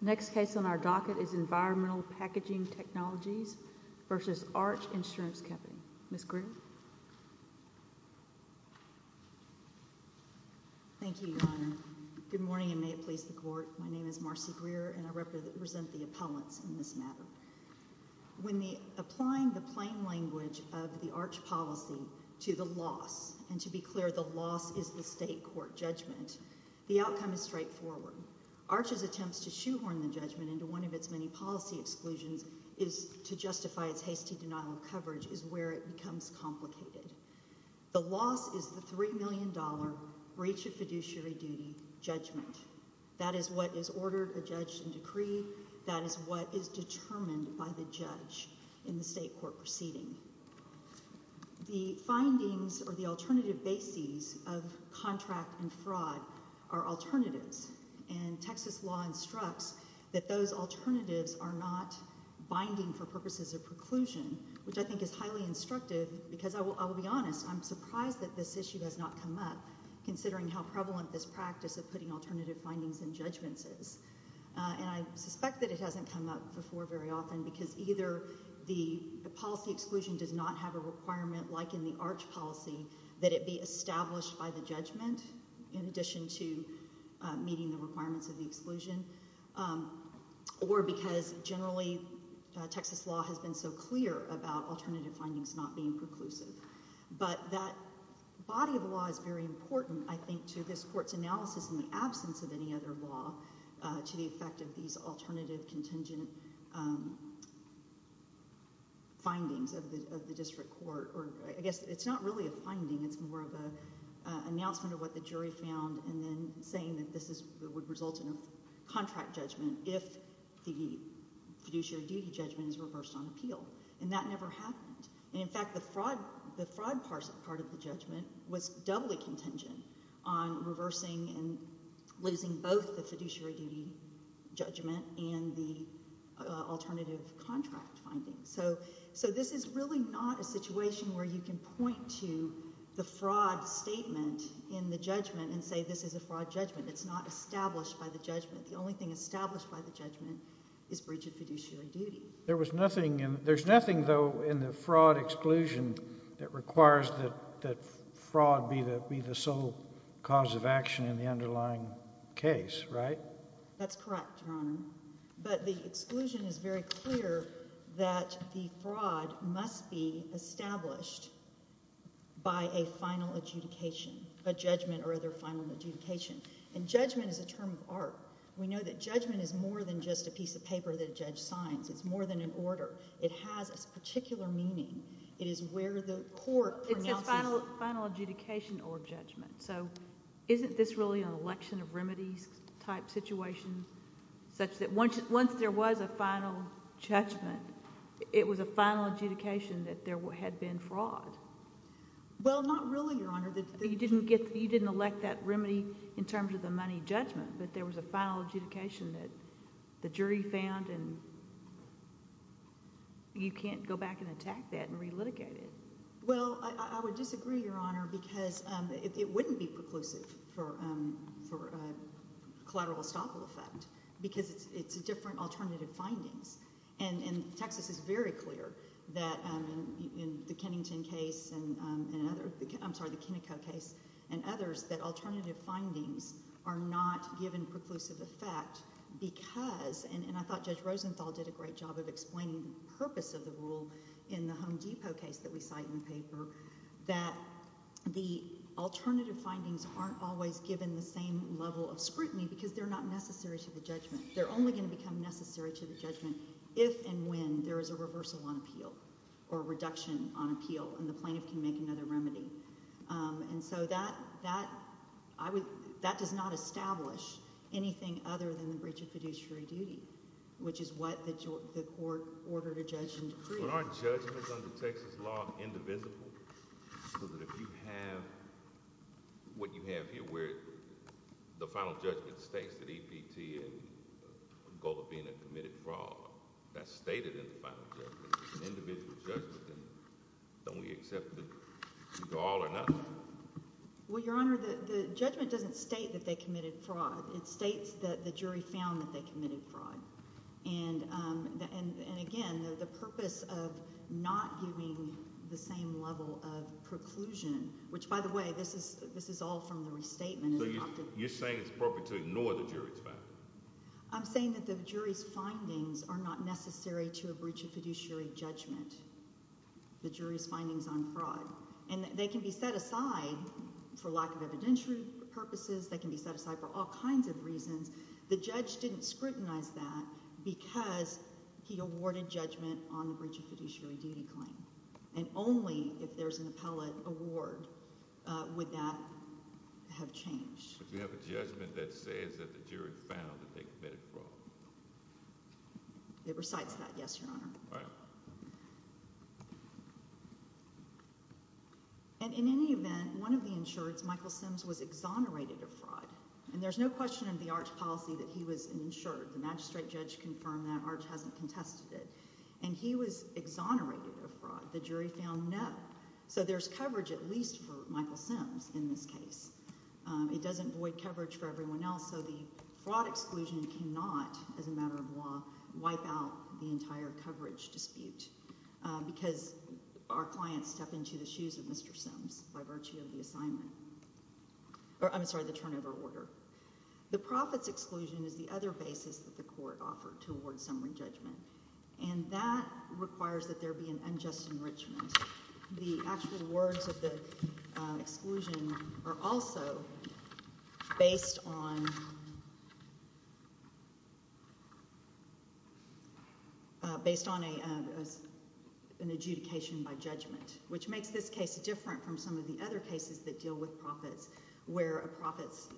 Next case on our docket is Environmental Packaging Technologies v. Arch Insurance Company. Ms. Greer? Thank you, Your Honor. Good morning, and may it please the Court. My name is Marcy Greer, and I represent the appellants in this matter. When applying the plain language of the Arch policy to the loss, and to be clear, the loss is the state court judgment, the outcome is straightforward. Arch's attempts to shoehorn the judgment into one of its many policy exclusions is to justify its hasty denial of coverage is where it becomes complicated. The loss is the $3 million breach of fiduciary duty judgment. That is what is ordered, adjudged, and decreed. That is what is determined by the judge in the state court proceeding. The findings or the alternative bases of contract and fraud are alternatives, and Texas law instructs that those alternatives are not binding for purposes of preclusion, which I think is highly instructive, because I will be honest, I'm surprised that this issue has not come up, considering how prevalent this practice of putting alternative findings and judgments is. And I suspect that it hasn't come up before very often, because either the policy exclusion does not have a requirement like in the Arch policy that it be established by the judgment in addition to meeting the requirements of the exclusion, or because, generally, Texas law has been so clear about alternative findings not being preclusive. But that body of law is very important, I think, to this court's analysis in the absence of any other law to the effect of these alternative contingent findings of the district court. It's not really a finding, it's more of an announcement of what the jury found, and then saying that this would result in a contract judgment if the fiduciary duty judgment is reversed on appeal. And that never happened. In fact, the fraud part of the judgment was doubly contingent on reversing and losing both the fiduciary duty judgment and the alternative contract findings. So this is really not a situation where you can point to the fraud statement in the judgment and say this is a fraud judgment. It's not established by the judgment. The only thing established by the judgment is breach of fiduciary duty. There was nothing in, there's nothing, though, in the fraud exclusion that requires that fraud be the sole cause of action in the underlying case, right? That's correct, Your Honor. But the exclusion is very clear that the fraud must be established by a final adjudication, a judgment or other final adjudication. And judgment is a term of art. We know that judgment is more than just a piece of paper that a judge signs. It's more than an order. It has a particular meaning. It is where the court pronounces... It's a final adjudication or judgment. So isn't this really an election of remedies type situation such that once there was a final judgment, it was a final adjudication that there had been fraud? Well, not really, Your Honor. You didn't elect that remedy in terms of the money judgment, but there was a final adjudication that the jury found and you can't go back and attack that and relitigate it. Well, I would disagree, Your Honor, because it wouldn't be preclusive for collateral estoppel effect because it's a different alternative findings. And Texas is very clear that in the Kennington case and other... I'm sorry, the Kenneco case and others that alternative findings are not given preclusive effect because... and I thought Judge Rosenthal did a great job of explaining the purpose of the rule in the Kennington paper, that the alternative findings aren't always given the same level of scrutiny because they're not necessary to the judgment. They're only going to become necessary to the judgment if and when there is a reversal on appeal or reduction on appeal and the plaintiff can make another remedy. And so that does not establish anything other than the breach of fiduciary duty, which is what the court ordered a judge and decree. But aren't judgments under Texas law indivisible, so that if you have... what you have here where the final judgment states that E.P.T. and Golovina committed fraud, that's stated in the final judgment. If it's an individual judgment, then don't we accept that these are all or nothing? Well, Your Honor, the judgment doesn't state that they committed fraud. It states that the jury found that they committed fraud. And again, the purpose of not giving the same level of preclusion, which by the way, this is all from the restatement... So you're saying it's appropriate to ignore the jury's findings? I'm saying that the jury's findings are not necessary to a breach of fiduciary judgment. The jury's findings on fraud. And they can be set aside for lack of evidentiary purposes, they can be set aside for all kinds of reasons. The judge didn't scrutinize that because he awarded judgment on the breach of fiduciary duty claim. And only if there's an appellate award would that have changed. But you have a judgment that says that the jury found that they committed fraud. It recites that, yes, Your Honor. And in any event, one of the insureds, Michael Sims, was exonerated of fraud. And there's no question in the Arch's policy that he was an insured. The magistrate judge confirmed that. Arch hasn't contested it. And he was exonerated of fraud. The jury found no. So there's coverage at least for Michael Sims in this case. It doesn't void coverage for everyone else. So the fraud exclusion cannot, as a matter of law, wipe out the entire coverage dispute. Because our clients step into the shoes of Mr. Sims by virtue of the assignment. Or I'm sorry, the turnover order. The profits exclusion is the other basis that the court offered to award summary judgment. And that requires that there be an unjust enrichment. The actual words of the exclusion are also based on an adjudication by judgment, which makes this case different from some of the other cases that deal with profits. Where a profits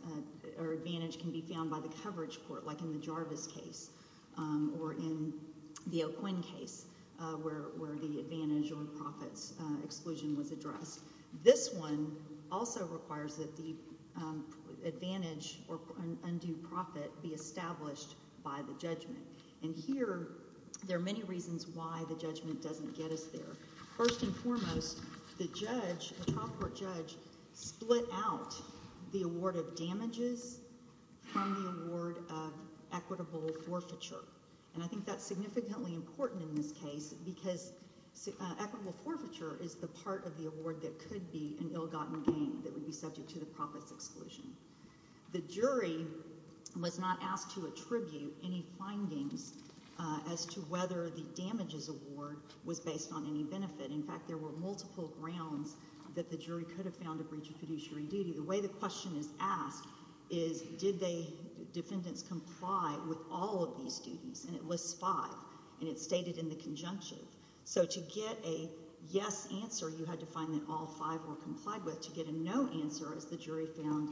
or advantage can be found by the coverage court, like in the Jarvis case, or in the O'Quinn case, where the advantage or profits exclusion was addressed. This one also requires that the advantage or undue profit be established by the judgment. And here, there are many reasons why the judgment doesn't get us there. First and foremost, the judge, the trial court judge, split out the award of damages from the award of equitable forfeiture. And I think that's significantly important in this case, because equitable forfeiture is the part of the award that could be an ill-gotten gain that would be subject to the profits exclusion. The jury was not asked to attribute any findings as to whether the damages award was based on any benefit. In fact, there were multiple grounds that the jury could have found a breach of fiduciary duty. The way the question is asked is, did the defendants comply with all of these duties? And it lists five, and it's stated in the conjunctive. So to get a yes answer, you had to find that all five were complied with. To get a no answer, as the jury found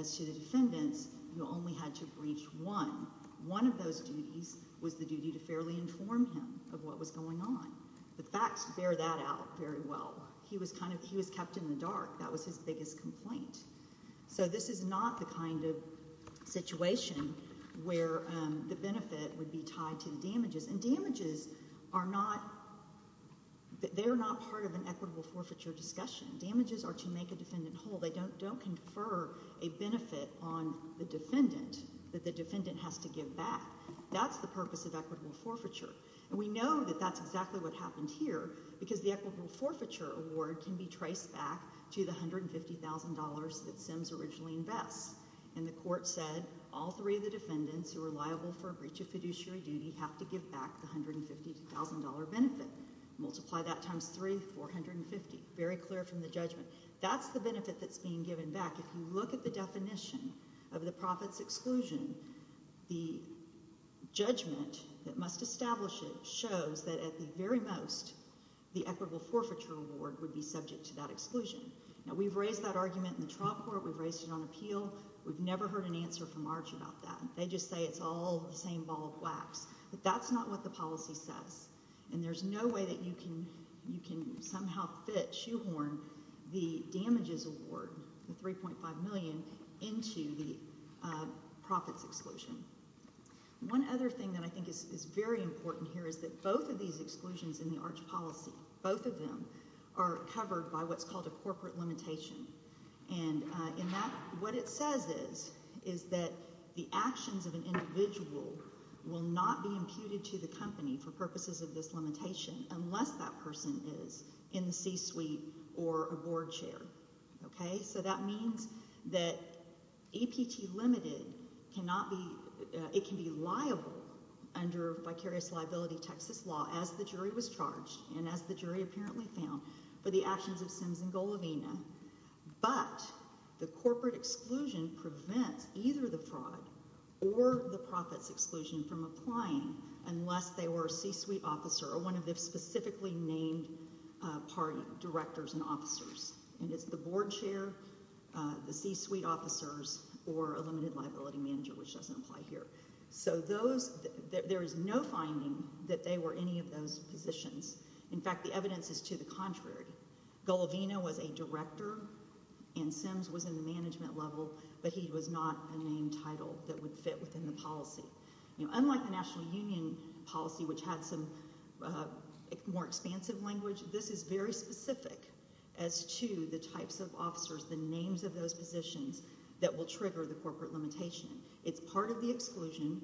as to the defendants, you only had to breach one. One of those duties was the duty to fairly inform him of what was going on. The facts bear that out very well. He was kept in the dark. That was his biggest complaint. So this is not the kind of situation where the benefit would be tied to the damages. And damages are not part of an equitable forfeiture discussion. Damages are to make a defendant whole. They don't confer a benefit on the defendant that the defendant has to give back. That's the purpose of equitable forfeiture. And we know that that's exactly what happened here, because the equitable forfeiture award can be traced back to the $150,000 that Sims originally invests. And the court said, all three of the defendants who were liable for a breach of fiduciary duty have to give back the $150,000 benefit. Multiply that times three, 450. Very clear from the judgment. That's the benefit that's being given back. If you look at the definition of the profit's exclusion, the judgment that must establish it shows that at the very most, the equitable forfeiture award would be subject to that exclusion. Now, we've raised that argument in the trial court. We've raised it on appeal. We've never heard an answer from ARCH about that. They just say it's all the same ball of wax. But that's not what the policy says. And there's no way that you can somehow fit, shoehorn, the damages award, the $3.5 million, into the profit's exclusion. One other thing that I think is very important here is that both of these exclusions in the ARCH policy, both of them are covered by what's called a corporate limitation. And what it says is that the actions of an individual will not be imputed to the company for purposes of this limitation unless that person is in the C-suite or a board chair. So that means that APT Limited, it can be liable under vicarious liability Texas law, as the jury was charged, and as the jury apparently found, for the actions of Sims and Golovina. But the corporate exclusion prevents either the fraud or the profit's exclusion from applying unless they were a C-suite officer or one of the specifically named party directors and officers. And it's the board chair, the C-suite officers, or a limited liability manager, which doesn't apply here. So there is no finding that they were any of those positions. In fact, the evidence is to the contrary. Golovina was a director and Sims was in the management level, would fit within the policy. Unlike the National Union policy, which had some more expansive language, this is very specific as to the types of officers, the names of those positions, that will trigger the corporate limitation. It's part of the exclusion.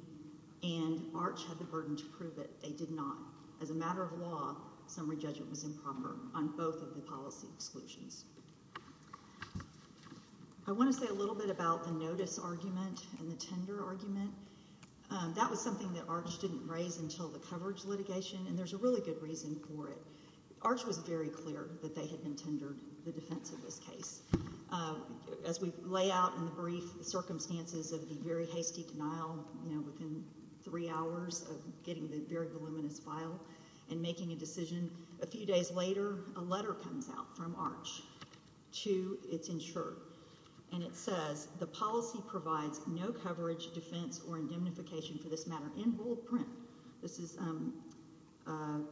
And Arch had the burden to prove it. They did not. As a matter of law, summary judgment was improper on both of the policy exclusions. I want to say a little bit about the notice argument and the tender argument. That was something that Arch didn't raise until the coverage litigation. And there's a really good reason for it. Arch was very clear that they had been tendered the defense of this case. As we lay out in the brief circumstances of the very hasty denial within three hours of getting the very voluminous file and making a decision, a few days later, a letter comes out from Arch to its insurer. And it says, the policy provides no coverage, defense, or indemnification for this matter in rule of print. This is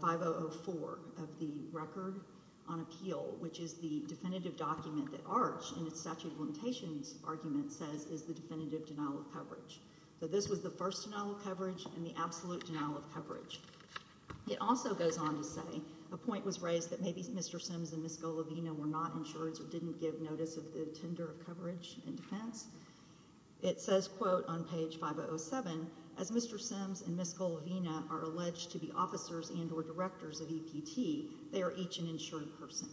5004 of the record on appeal, which is the definitive document that Arch, in its statute of limitations argument, says is the definitive denial of coverage. So this was the first denial of coverage and the absolute denial of coverage. It also goes on to say, a point was raised that maybe Mr. Sims and Ms. Golovina were not insured or didn't give notice of the tender of coverage and defense. It says, quote, on page 507, as Mr. Sims and Ms. Golovina are alleged to be officers and or directors of EPT, they are each an insured person.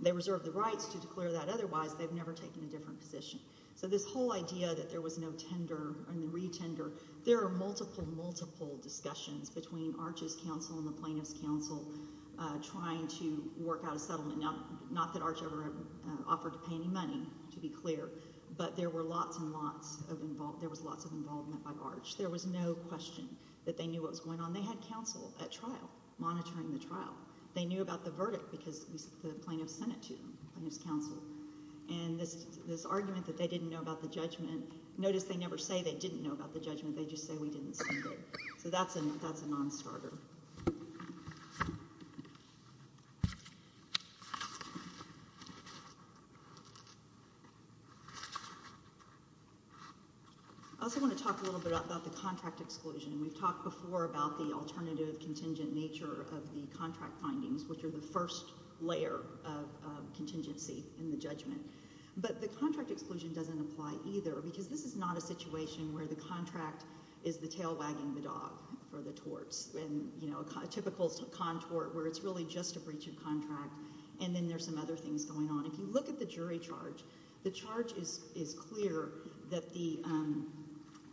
They reserve the rights to declare that. Otherwise, they've never taken a different position. So this whole idea that there was no tender and the re-tender, there are multiple, multiple discussions between Arch's counsel and the plaintiff's counsel trying to work out a settlement. Not that Arch ever offered to pay any money, to be clear. But there were lots and lots of, there was lots of involvement by Arch. There was no question that they knew what was going on. They had counsel at trial, monitoring the trial. They knew about the verdict because the plaintiff sent it to them, plaintiff's counsel. And this argument that they didn't know about the judgment, notice they never say they didn't know about the judgment, they just say we didn't send it. So that's a non-starter. Thank you. I also wanna talk a little bit about the contract exclusion. We've talked before about the alternative contingent nature of the contract findings, which are the first layer of contingency in the judgment. But the contract exclusion doesn't apply either because this is not a situation where the contract is the tail wagging the dog for the torts. And a typical contort where it's really just a breach of contract. And then there's some other things going on. If you look at the jury charge, the charge is clear that the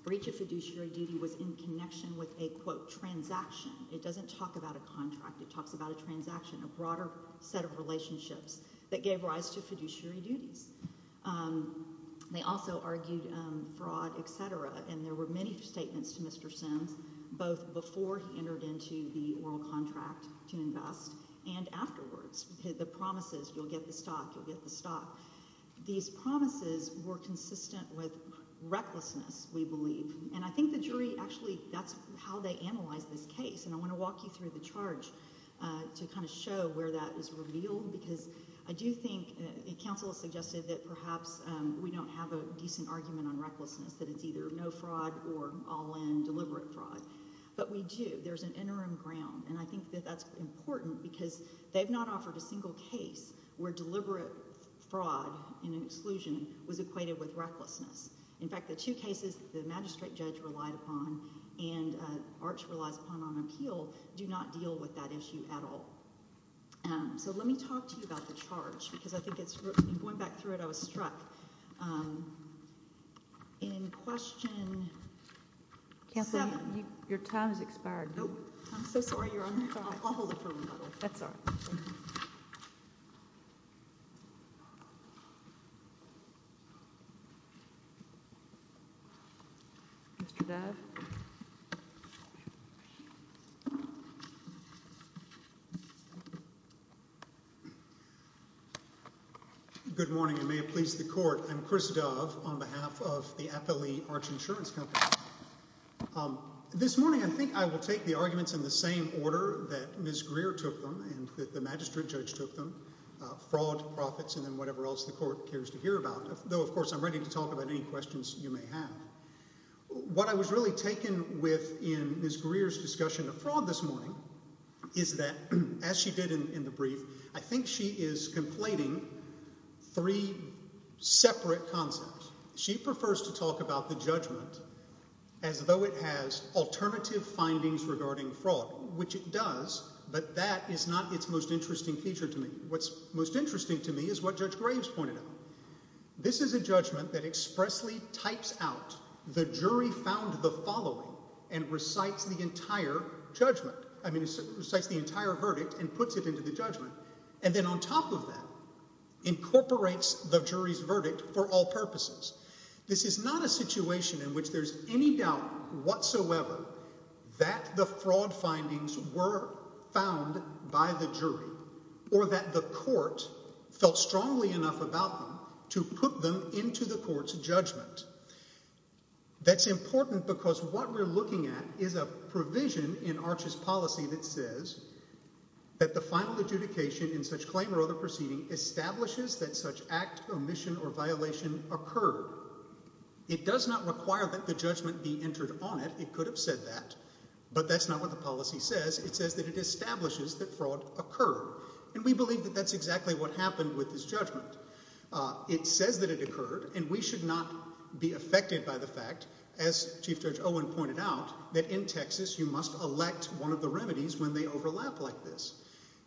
breach of fiduciary duty was in connection with a quote, transaction. It doesn't talk about a contract. It talks about a transaction, a broader set of relationships that gave rise to fiduciary duties. They also argued fraud, et cetera. And there were many statements to Mr. Sims, both before he entered into the oral contract to invest and afterwards. The promises, you'll get the stock, you'll get the stock. These promises were consistent with recklessness, we believe. And I think the jury actually, that's how they analyze this case. And I wanna walk you through the charge to kind of show where that is revealed. Because I do think, counsel has suggested that perhaps we don't have a decent argument on recklessness, that it's either no fraud or all in deliberate fraud. But we do, there's an interim ground. And I think that that's important because they've not offered a single case where deliberate fraud and exclusion was equated with recklessness. In fact, the two cases the magistrate judge relied upon and Arch relies upon on appeal do not deal with that issue at all. So let me talk to you about the charge because I think it's, going back through it, I was struck. In question. Counselor, your time has expired. Nope. I'm so sorry, Your Honor. I'll hold it for a moment. That's all right. Mr. Dove. Good morning, and may it please the court. I'm Chris Dove on behalf of the Appalee Arch Insurance Company. This morning, I think I will take the arguments in the same order that Ms. Greer took them and that the magistrate judge took them, fraud, profits, and then whatever else the court cares to hear about. Though, of course, I'm ready to talk about any questions you may have. What I was really taken with in Ms. Greer's discussion of fraud this morning is that, as she did in the brief, I think she is conflating three separate concepts. She prefers to talk about the judgment as though it has alternative findings regarding fraud, which it does, but that is not its most interesting feature to me. What's most interesting to me is what Judge Graves pointed out. This is a judgment that expressly types out the jury found the following and recites the entire verdict and puts it into the judgment, and then on top of that, incorporates the jury's verdict for all purposes. This is not a situation in which there's any doubt whatsoever that the fraud findings were found by the jury or that the court felt strongly enough about them to put them into the court's judgment. That's important because what we're looking at is a provision in Arches' policy that says, that the final adjudication in such claim or other proceeding establishes that such act, omission, or violation occurred. It does not require that the judgment be entered on it. It could have said that, but that's not what the policy says. It says that it establishes that fraud occurred, and we believe that that's exactly what happened with this judgment. It says that it occurred, and we should not be affected by the fact, as Chief Judge Owen pointed out, that in Texas, you must elect one of the remedies when they overlap like this.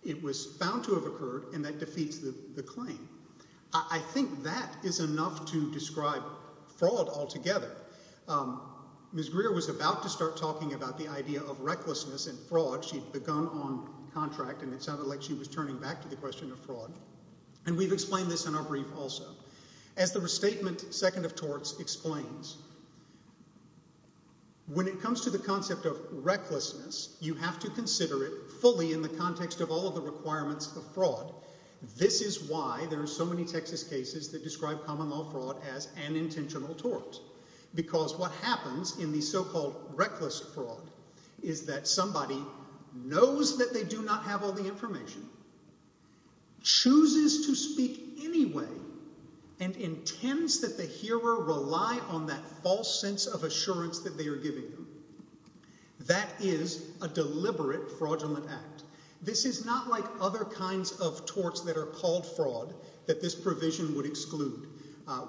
It was found to have occurred, and that defeats the claim. I think that is enough to describe fraud altogether. Ms. Greer was about to start talking about the idea of recklessness and fraud. She'd begun on contract, and it sounded like she was turning back to the question of fraud, and we've explained this in our brief also. As the restatement second of torts explains, when it comes to the concept of recklessness, you have to consider it fully in the context of all of the requirements of fraud. This is why there are so many Texas cases that describe common law fraud as an intentional tort, because what happens in the so-called reckless fraud is that somebody knows that they do not have all the information, chooses to speak anyway, and intends that the hearer rely on that false sense of assurance that they are giving them. That is a deliberate fraudulent act. This is not like other kinds of torts that are called fraud that this provision would exclude.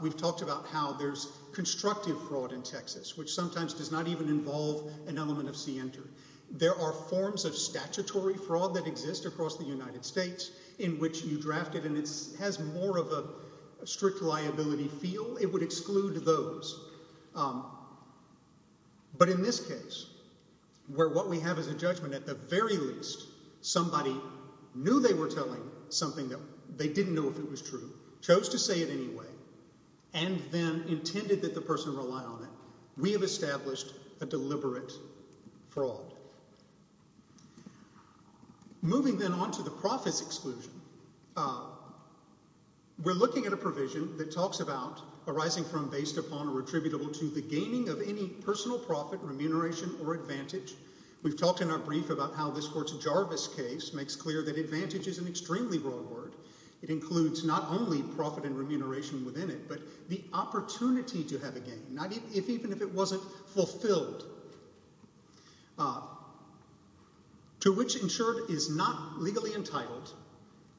We've talked about how there's constructive fraud in Texas, which sometimes does not even involve an element of scienter. There are forms of statutory fraud that exist across the United States in which you draft it, and it has more of a strict liability feel. It would exclude those. But in this case, where what we have is a judgment, at the very least, somebody knew they were telling something that they didn't know if it was true, chose to say it anyway, and then intended that the person rely on it, we have established a deliberate fraud. Moving then on to the profits exclusion, we're looking at a provision that talks about arising from based upon a retribution to the gaining of any personal profit, remuneration, or advantage. We've talked in our brief about how this court's Jarvis case makes clear that advantage is an extremely broad word. It includes not only profit and remuneration within it, but the opportunity to have a gain, not even if it wasn't fulfilled, to which insured is not legally entitled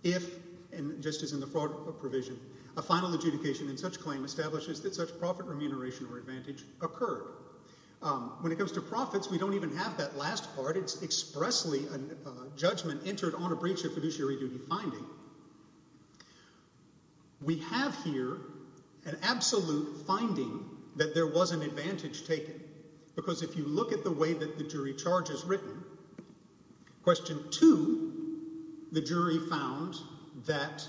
if, and just as in the fraud provision, a final adjudication in such claim establishes that such profit, remuneration, or advantage occurred. When it comes to profits, we don't even have that last part. It's expressly a judgment entered on a breach of fiduciary duty finding. We have here an absolute finding that there was an advantage taken because if you look at the way that the jury charge is written, question two, the jury found that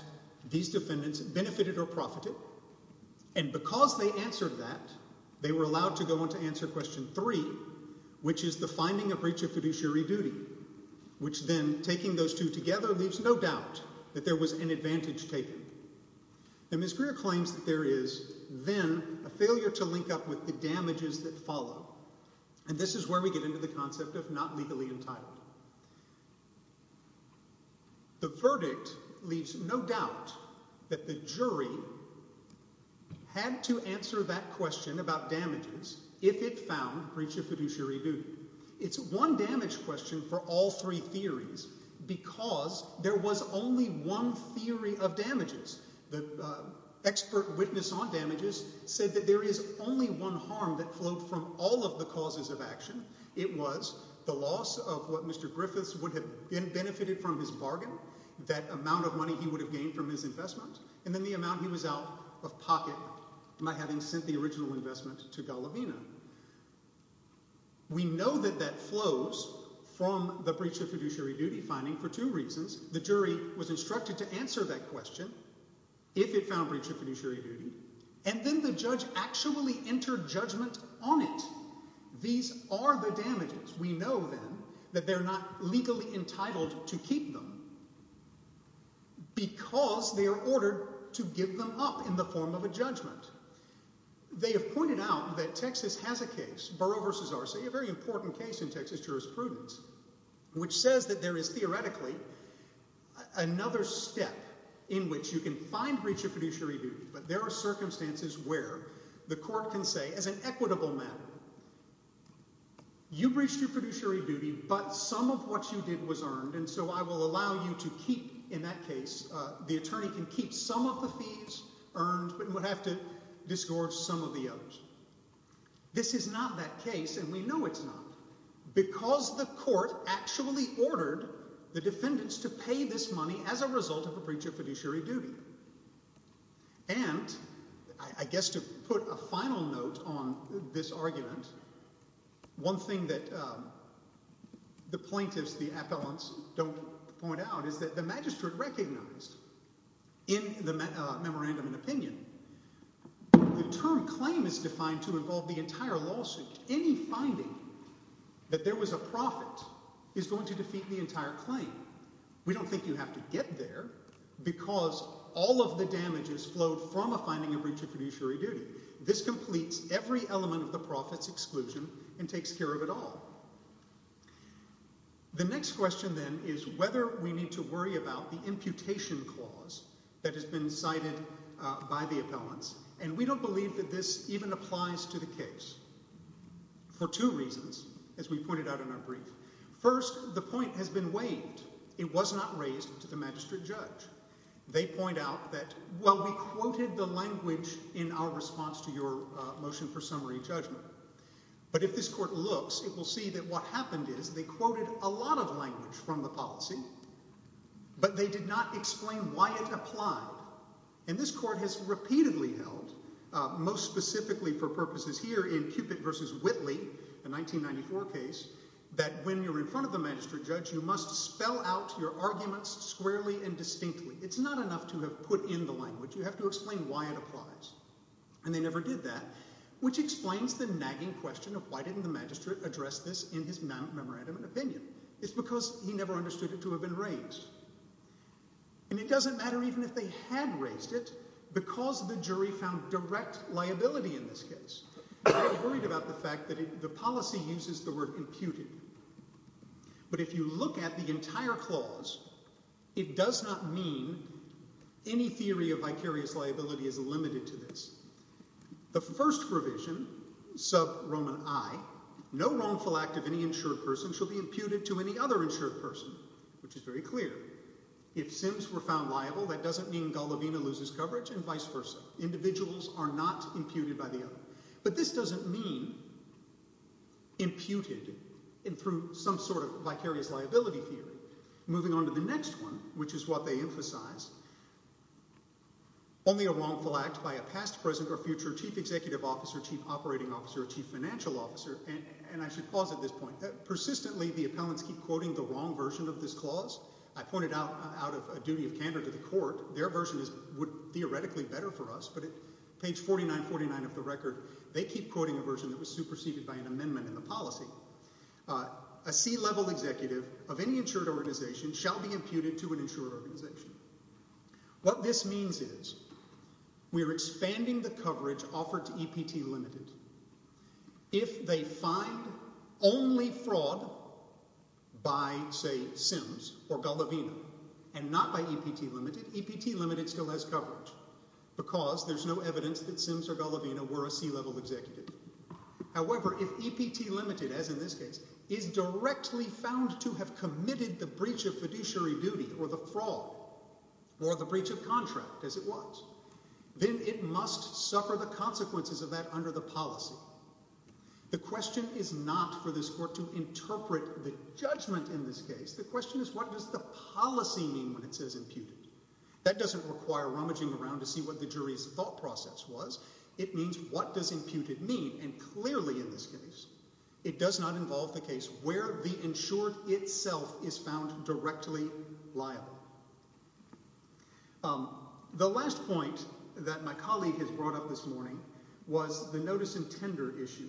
these defendants benefited or profited, and because they answered that, they were allowed to go on to answer question three, which is the finding of breach of fiduciary duty, which then taking those two together leaves no doubt that there was an advantage taken. Now, Ms. Greer claims that there is then a failure to link up with the damages that follow, and this is where we get into the concept of not legally entitled. The verdict leaves no doubt that the jury had to answer that question about damages if it found breach of fiduciary duty. It's one damage question for all three theories because there was only one theory of damages. The expert witness on damages said that there is only one harm that flowed from all of the causes of action. It was the loss of what Mr. Griffiths would have benefited from his bargain, that amount of money he would have gained from his investment, and then the amount he was out of pocket by having sent the original investment to Gallivina. We know that that flows from the breach of fiduciary duty finding for two reasons. The jury was instructed to answer that question if it found breach of fiduciary duty, and then the judge actually entered judgment on it. These are the damages. We know then that they're not legally entitled to keep them because they are ordered to give them up in the form of a judgment. They have pointed out that Texas has a case, Burrow v. Arce, a very important case in Texas jurisprudence, which says that there is theoretically another step in which you can find breach of fiduciary duty, but there are circumstances where the court can say, as an equitable matter, you breached your fiduciary duty, but some of what you did was earned, and so I will allow you to keep, in that case, the attorney can keep some of the fees earned, but he would have to disgorge some of the others. This is not that case, and we know it's not, because the court actually ordered the defendants to pay this money as a result of a breach of fiduciary duty. And I guess to put a final note on this argument, one thing that the plaintiffs, the appellants, don't point out is that the magistrate recognized in the memorandum of opinion, the term claim is defined to involve the entire lawsuit. Any finding that there was a profit is going to defeat the entire claim. We don't think you have to get there because all of the damages flowed from a finding of breach of fiduciary duty. This completes every element of the profits and costs exclusion and takes care of it all. The next question then is whether we need to worry about the imputation clause that has been cited by the appellants, and we don't believe that this even applies to the case for two reasons, as we pointed out in our brief. First, the point has been waived. It was not raised to the magistrate judge. They point out that, well, we quoted the language in our response to your motion for summary judgment, but if this court looks, it will see that what happened is they quoted a lot of language from the policy, but they did not explain why it applied, and this court has repeatedly held, most specifically for purposes here in Cupid versus Whitley, a 1994 case, that when you're in front of the magistrate judge, you must spell out your arguments squarely and distinctly. It's not enough to have put in the language. You have to explain why it applies, and they never did that, which explains the nagging question of why didn't the magistrate address this in his memorandum of opinion. It's because he never understood it to have been raised, and it doesn't matter even if they had raised it because the jury found direct liability in this case. They were worried about the fact that the policy uses the word imputed, but if you look at the entire clause, it does not mean any theory of vicarious liability is limited to this. The first provision, sub Roman I, no wrongful act of any insured person shall be imputed to any other insured person, which is very clear. If Sims were found liable, that doesn't mean Golovina loses coverage and vice versa. Individuals are not imputed by the other, but this doesn't mean imputed through some sort of vicarious liability theory. Moving on to the next one, which is what they emphasize. Only a wrongful act by a past, present, or future chief executive officer, chief operating officer, chief financial officer, and I should pause at this point. Persistently, the appellants keep quoting the wrong version of this clause. I pointed out out of a duty of candor to the court, their version is theoretically better for us, but at page 4949 of the record, they keep quoting a version that was superseded by an amendment in the policy. A C-level executive of any insured organization shall be imputed to an insured organization. What this means is we are expanding the coverage offered to EPT Limited. If they find only fraud by, say, Sims or Golovina, and not by EPT Limited, EPT Limited still has coverage because there's no evidence that Sims or Golovina were a C-level executive. However, if EPT Limited, as in this case, is directly found to have committed the breach of fiduciary duty, or the fraud, or the breach of contract, as it was, then it must suffer the consequences of that under the policy. The question is not for this court to interpret the judgment in this case. The question is what does the policy mean when it says imputed? That doesn't require rummaging around to see what the jury's thought process was. It means what does imputed mean? And clearly in this case, it does not involve the case where the insured itself is found directly liable. The last point that my colleague has brought up this morning was the notice and tender issue.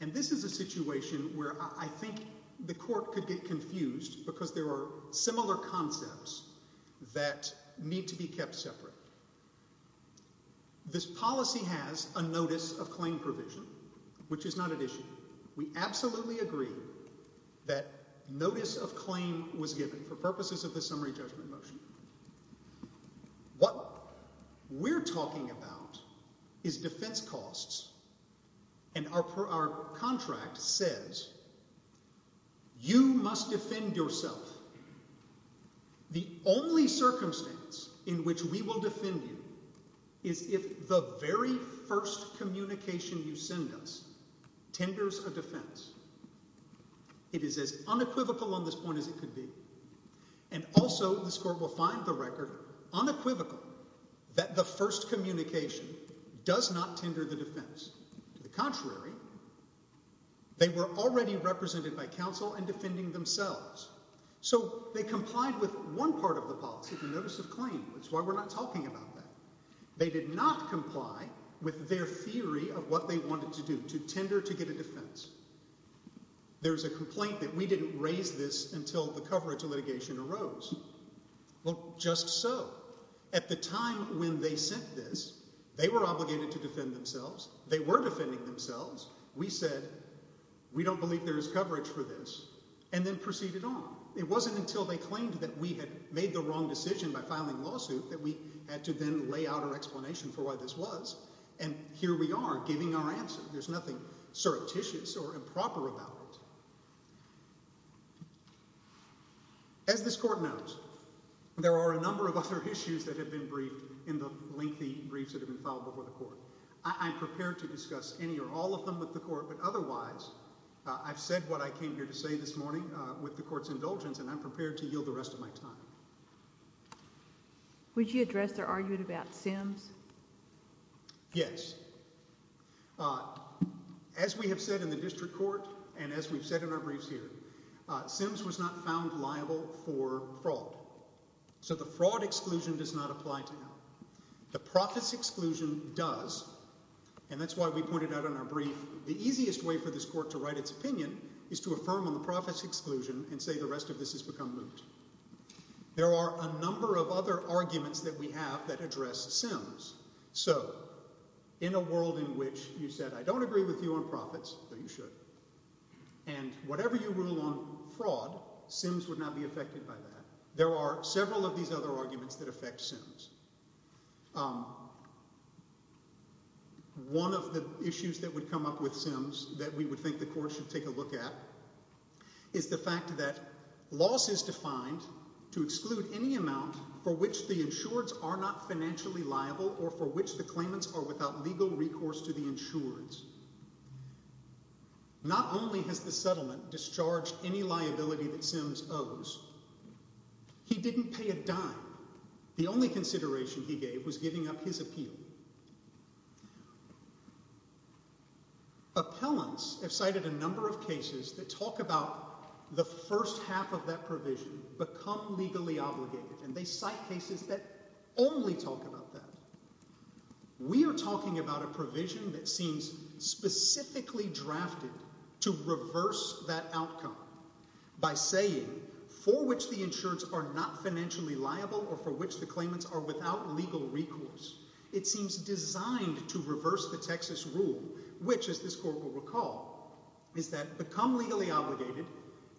And this is a situation where I think the court could get confused because there are similar concepts that need to be kept separate. This policy has a notice of claim provision, which is not an issue. We absolutely agree that notice of claim was given for purposes of the summary judgment motion. What we're talking about is defense costs, and our contract says you must defend yourself. The only circumstance in which we will defend ourselves or defend you is if the very first communication you send us tenders a defense. It is as unequivocal on this point as it could be. And also this court will find the record unequivocal that the first communication does not tender the defense. To the contrary, they were already represented by counsel and defending themselves. So they complied with one part of the policy, the notice of claim. That's why we're not talking about that. They did not comply with their theory of what they wanted to do, to tender to get a defense. There's a complaint that we didn't raise this until the coverage of litigation arose. Well, just so. At the time when they sent this, they were obligated to defend themselves. They were defending themselves. We said, we don't believe there is coverage for this, and then proceeded on. It wasn't until they claimed that we had made the wrong decision by filing lawsuit that we had to then lay out our explanation for why this was. And here we are giving our answer. There's nothing surreptitious or improper about it. As this court knows, there are a number of other issues that have been briefed in the lengthy briefs that have been filed before the court. I'm prepared to discuss any or all of them with the court, but otherwise, I've said what I came here to say this morning with the court's indulgence, and I'm prepared to yield the rest of my time. Would you address their argument about Sims? Yes. As we have said in the district court, and as we've said in our briefs here, Sims was not found liable for fraud. So the fraud exclusion does not apply to him. The profits exclusion does, and that's why we pointed out in our brief, the easiest way for this court to write its opinion is to affirm on the profits exclusion and say the rest of this has become moot. There are a number of other arguments that we have that address Sims. So in a world in which you said, I don't agree with you on profits, though you should, and whatever you rule on fraud, Sims would not be affected by that. There are several of these other arguments that affect Sims. One of the issues that would come up with Sims that we would think the court should take a look at is the fact that loss is defined to exclude any amount for which the insureds are not financially liable or for which the claimants are without legal recourse to the insureds. Not only has the settlement discharged any liability that Sims owes, he didn't pay a dime. The only consideration he gave was giving up his appeal. Appellants have cited a number of cases that talk about the first half of that provision, become legally obligated, and they cite cases that only talk about that. We are talking about a provision that seems specifically drafted to reverse that outcome by saying for which the insureds are not financially liable or for which the claimants are without legal recourse. It seems designed to reverse the Texas rule, which as this court will recall, is that become legally obligated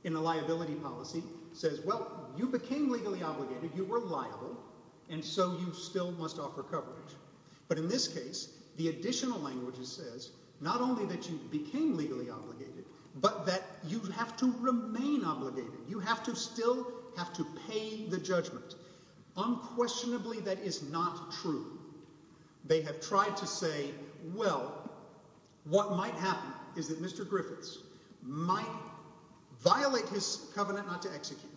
in a liability policy says, well, you became legally obligated, you were liable, and so you still must offer coverage. But in this case, the additional language says not only that you became legally obligated, but that you have to remain obligated. You have to still have to pay the judgment. Unquestionably, that is not true. They have tried to say, well, what might happen is that Mr. Griffiths might violate his covenant not to execute,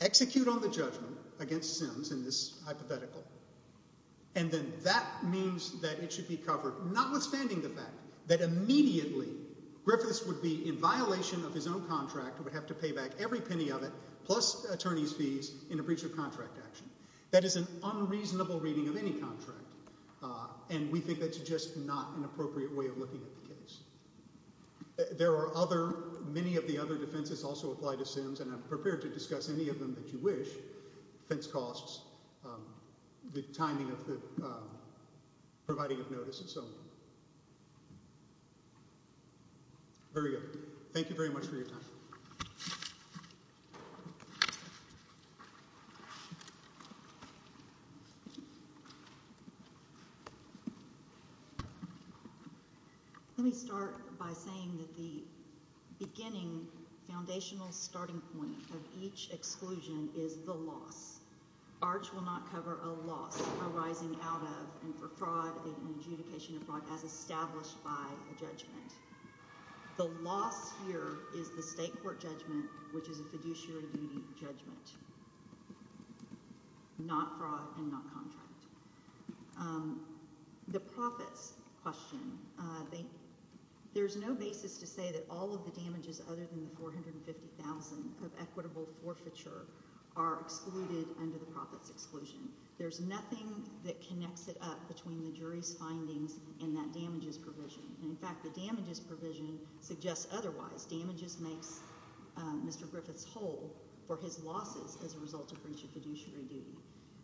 execute on the judgment against Sims in this hypothetical, and then that means that it should be covered, notwithstanding the fact that immediately Griffiths would be in violation of his own contract and would have to pay back every penny of it plus attorney's fees in a breach of contract action. That is an unreasonable reading of any contract, and we think that's just not an appropriate way of looking at the case. There are other, many of the other defenses also apply to Sims, and I'm prepared to discuss any of them that you wish. Fence costs, the timing of the providing of notices, so. Very good. Thank you very much for your time. Let me start by saying that the beginning foundational starting point of each exclusion is the loss. Arch will not cover a loss arising out of and for fraud and adjudication of fraud as established by the judgment. The loss here is the state court judgment, which is a fiduciary duty judgment, not fraud and not contract. The profits question, there's no basis to say that all of the damages other than the 450,000 of equitable forfeiture are excluded under the profits exclusion. There's nothing that connects it up between the jury's findings and that damages provision. And in fact, the damages provision suggests otherwise. Damages makes Mr. Griffiths whole for his losses as a result of breach of fiduciary duty.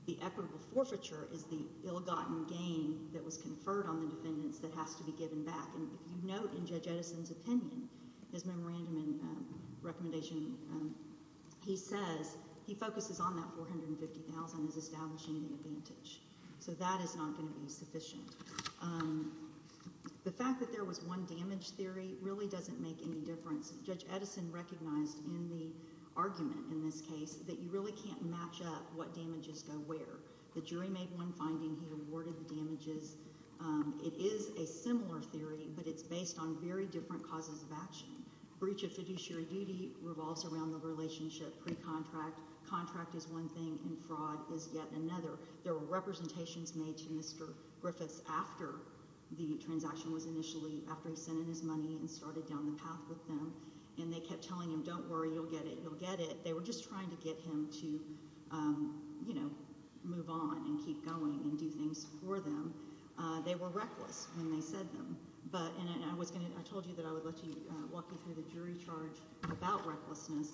The equitable forfeiture is the ill-gotten gain that was conferred on the defendants that has to be given back. And if you note in Judge Edison's opinion, his memorandum and recommendation, he says he focuses on that 450,000 as establishing the advantage. So that is not gonna be sufficient. The fact that there was one damage theory really doesn't make any difference. Judge Edison recognized in the argument in this case that you really can't match up what damages go where. The jury made one finding, he awarded the damages. It is a similar theory, but it's based on very different causes of action. Breach of fiduciary duty revolves around the relationship pre-contract. Contract is one thing and fraud is yet another. There were representations made to Mr. Griffiths after the transaction was initially, after he sent in his money and started down the path with them. And they kept telling him, don't worry, you'll get it, you'll get it. They were just trying to get him to, you know, move on and keep going and do things for them. They were reckless when they said them. But, and I was gonna, I told you that I would let you, walk you through the jury charge about recklessness.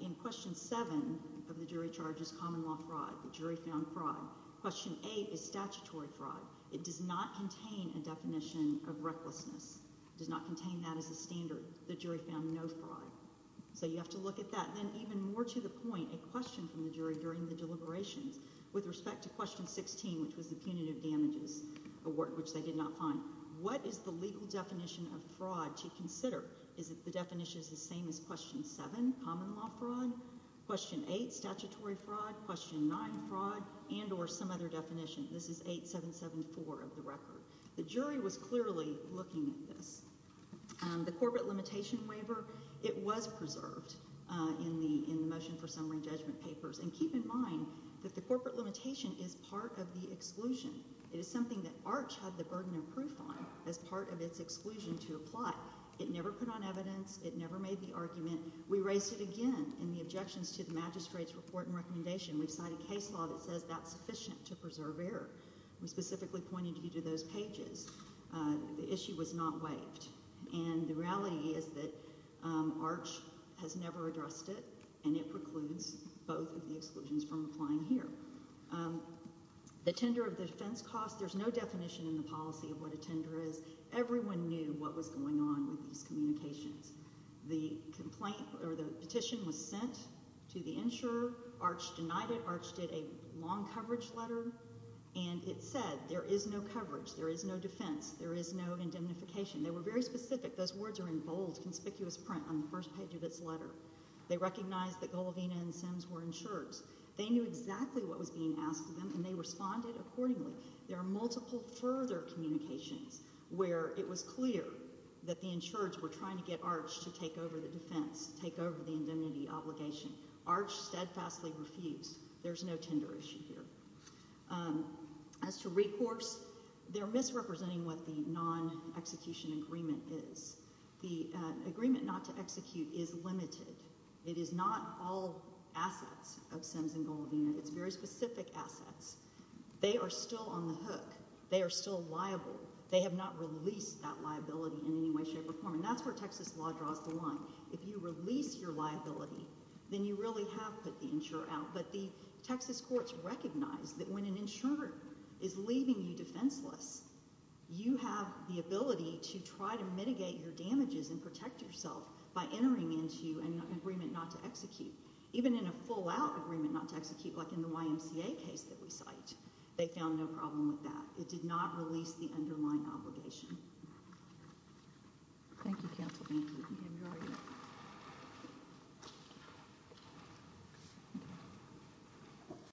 In question seven of the jury charges, common law fraud, the jury found fraud. Question eight is statutory fraud. It does not contain a definition of recklessness, does not contain that as a standard. The jury found no fraud. So you have to look at that. Then even more to the point, a question from the jury during the deliberations with respect to question 16, which was the punitive damages award, which they did not find. What is the legal definition of fraud to consider? Is it the definition is the same as question seven, common law fraud, question eight, statutory fraud, question nine, fraud, and or some other definition. This is 8774 of the record. The jury was clearly looking at this. The corporate limitation waiver, it was preserved in the motion for summary judgment papers. And keep in mind that the corporate limitation is part of the exclusion. It is something that Arch had the burden of proof on as part of its exclusion to apply. It never put on evidence. It never made the argument. We raised it again in the objections to the magistrate's report and recommendation. We've signed a case law that says that's sufficient to preserve error. We specifically pointed you to those pages. The issue was not waived. And the reality is that Arch has never addressed it, and it precludes both of the exclusions from applying here. The tender of defense costs, there's no definition in the policy of what a tender is. Everyone knew what was going on with these communications. The petition was sent to the insurer. Arch denied it. Arch did a long coverage letter, and it said there is no coverage. There is no defense. There is no indemnification. They were very specific. Those words are in bold, conspicuous print on the first page of its letter. They recognized that Golovina and Sims were insured. They knew exactly what was being asked of them, and they responded accordingly. There are multiple further communications where it was clear that the insureds were trying to get Arch to take over the defense, take over the indemnity obligation. Arch steadfastly refused. There's no tender issue here. As to recourse, they're misrepresenting what the non-execution agreement is. The agreement not to execute is limited. It is not all assets of Sims and Golovina. It's very specific assets. They are still on the hook. They are still liable. They have not released that liability in any way, shape, or form, and that's where Texas law draws the line. If you release your liability, then you really have put the insurer out, but the Texas courts recognize that when an insurer is leaving you defenseless, you have the ability to try to mitigate your damages and protect yourself by entering into an agreement not to execute. Even in a full-out agreement not to execute, like in the YMCA case that we cite, they found no problem with that. It did not release the underlying obligation. Thank you, Counsel. Thank you. I enjoyed it. Thank you.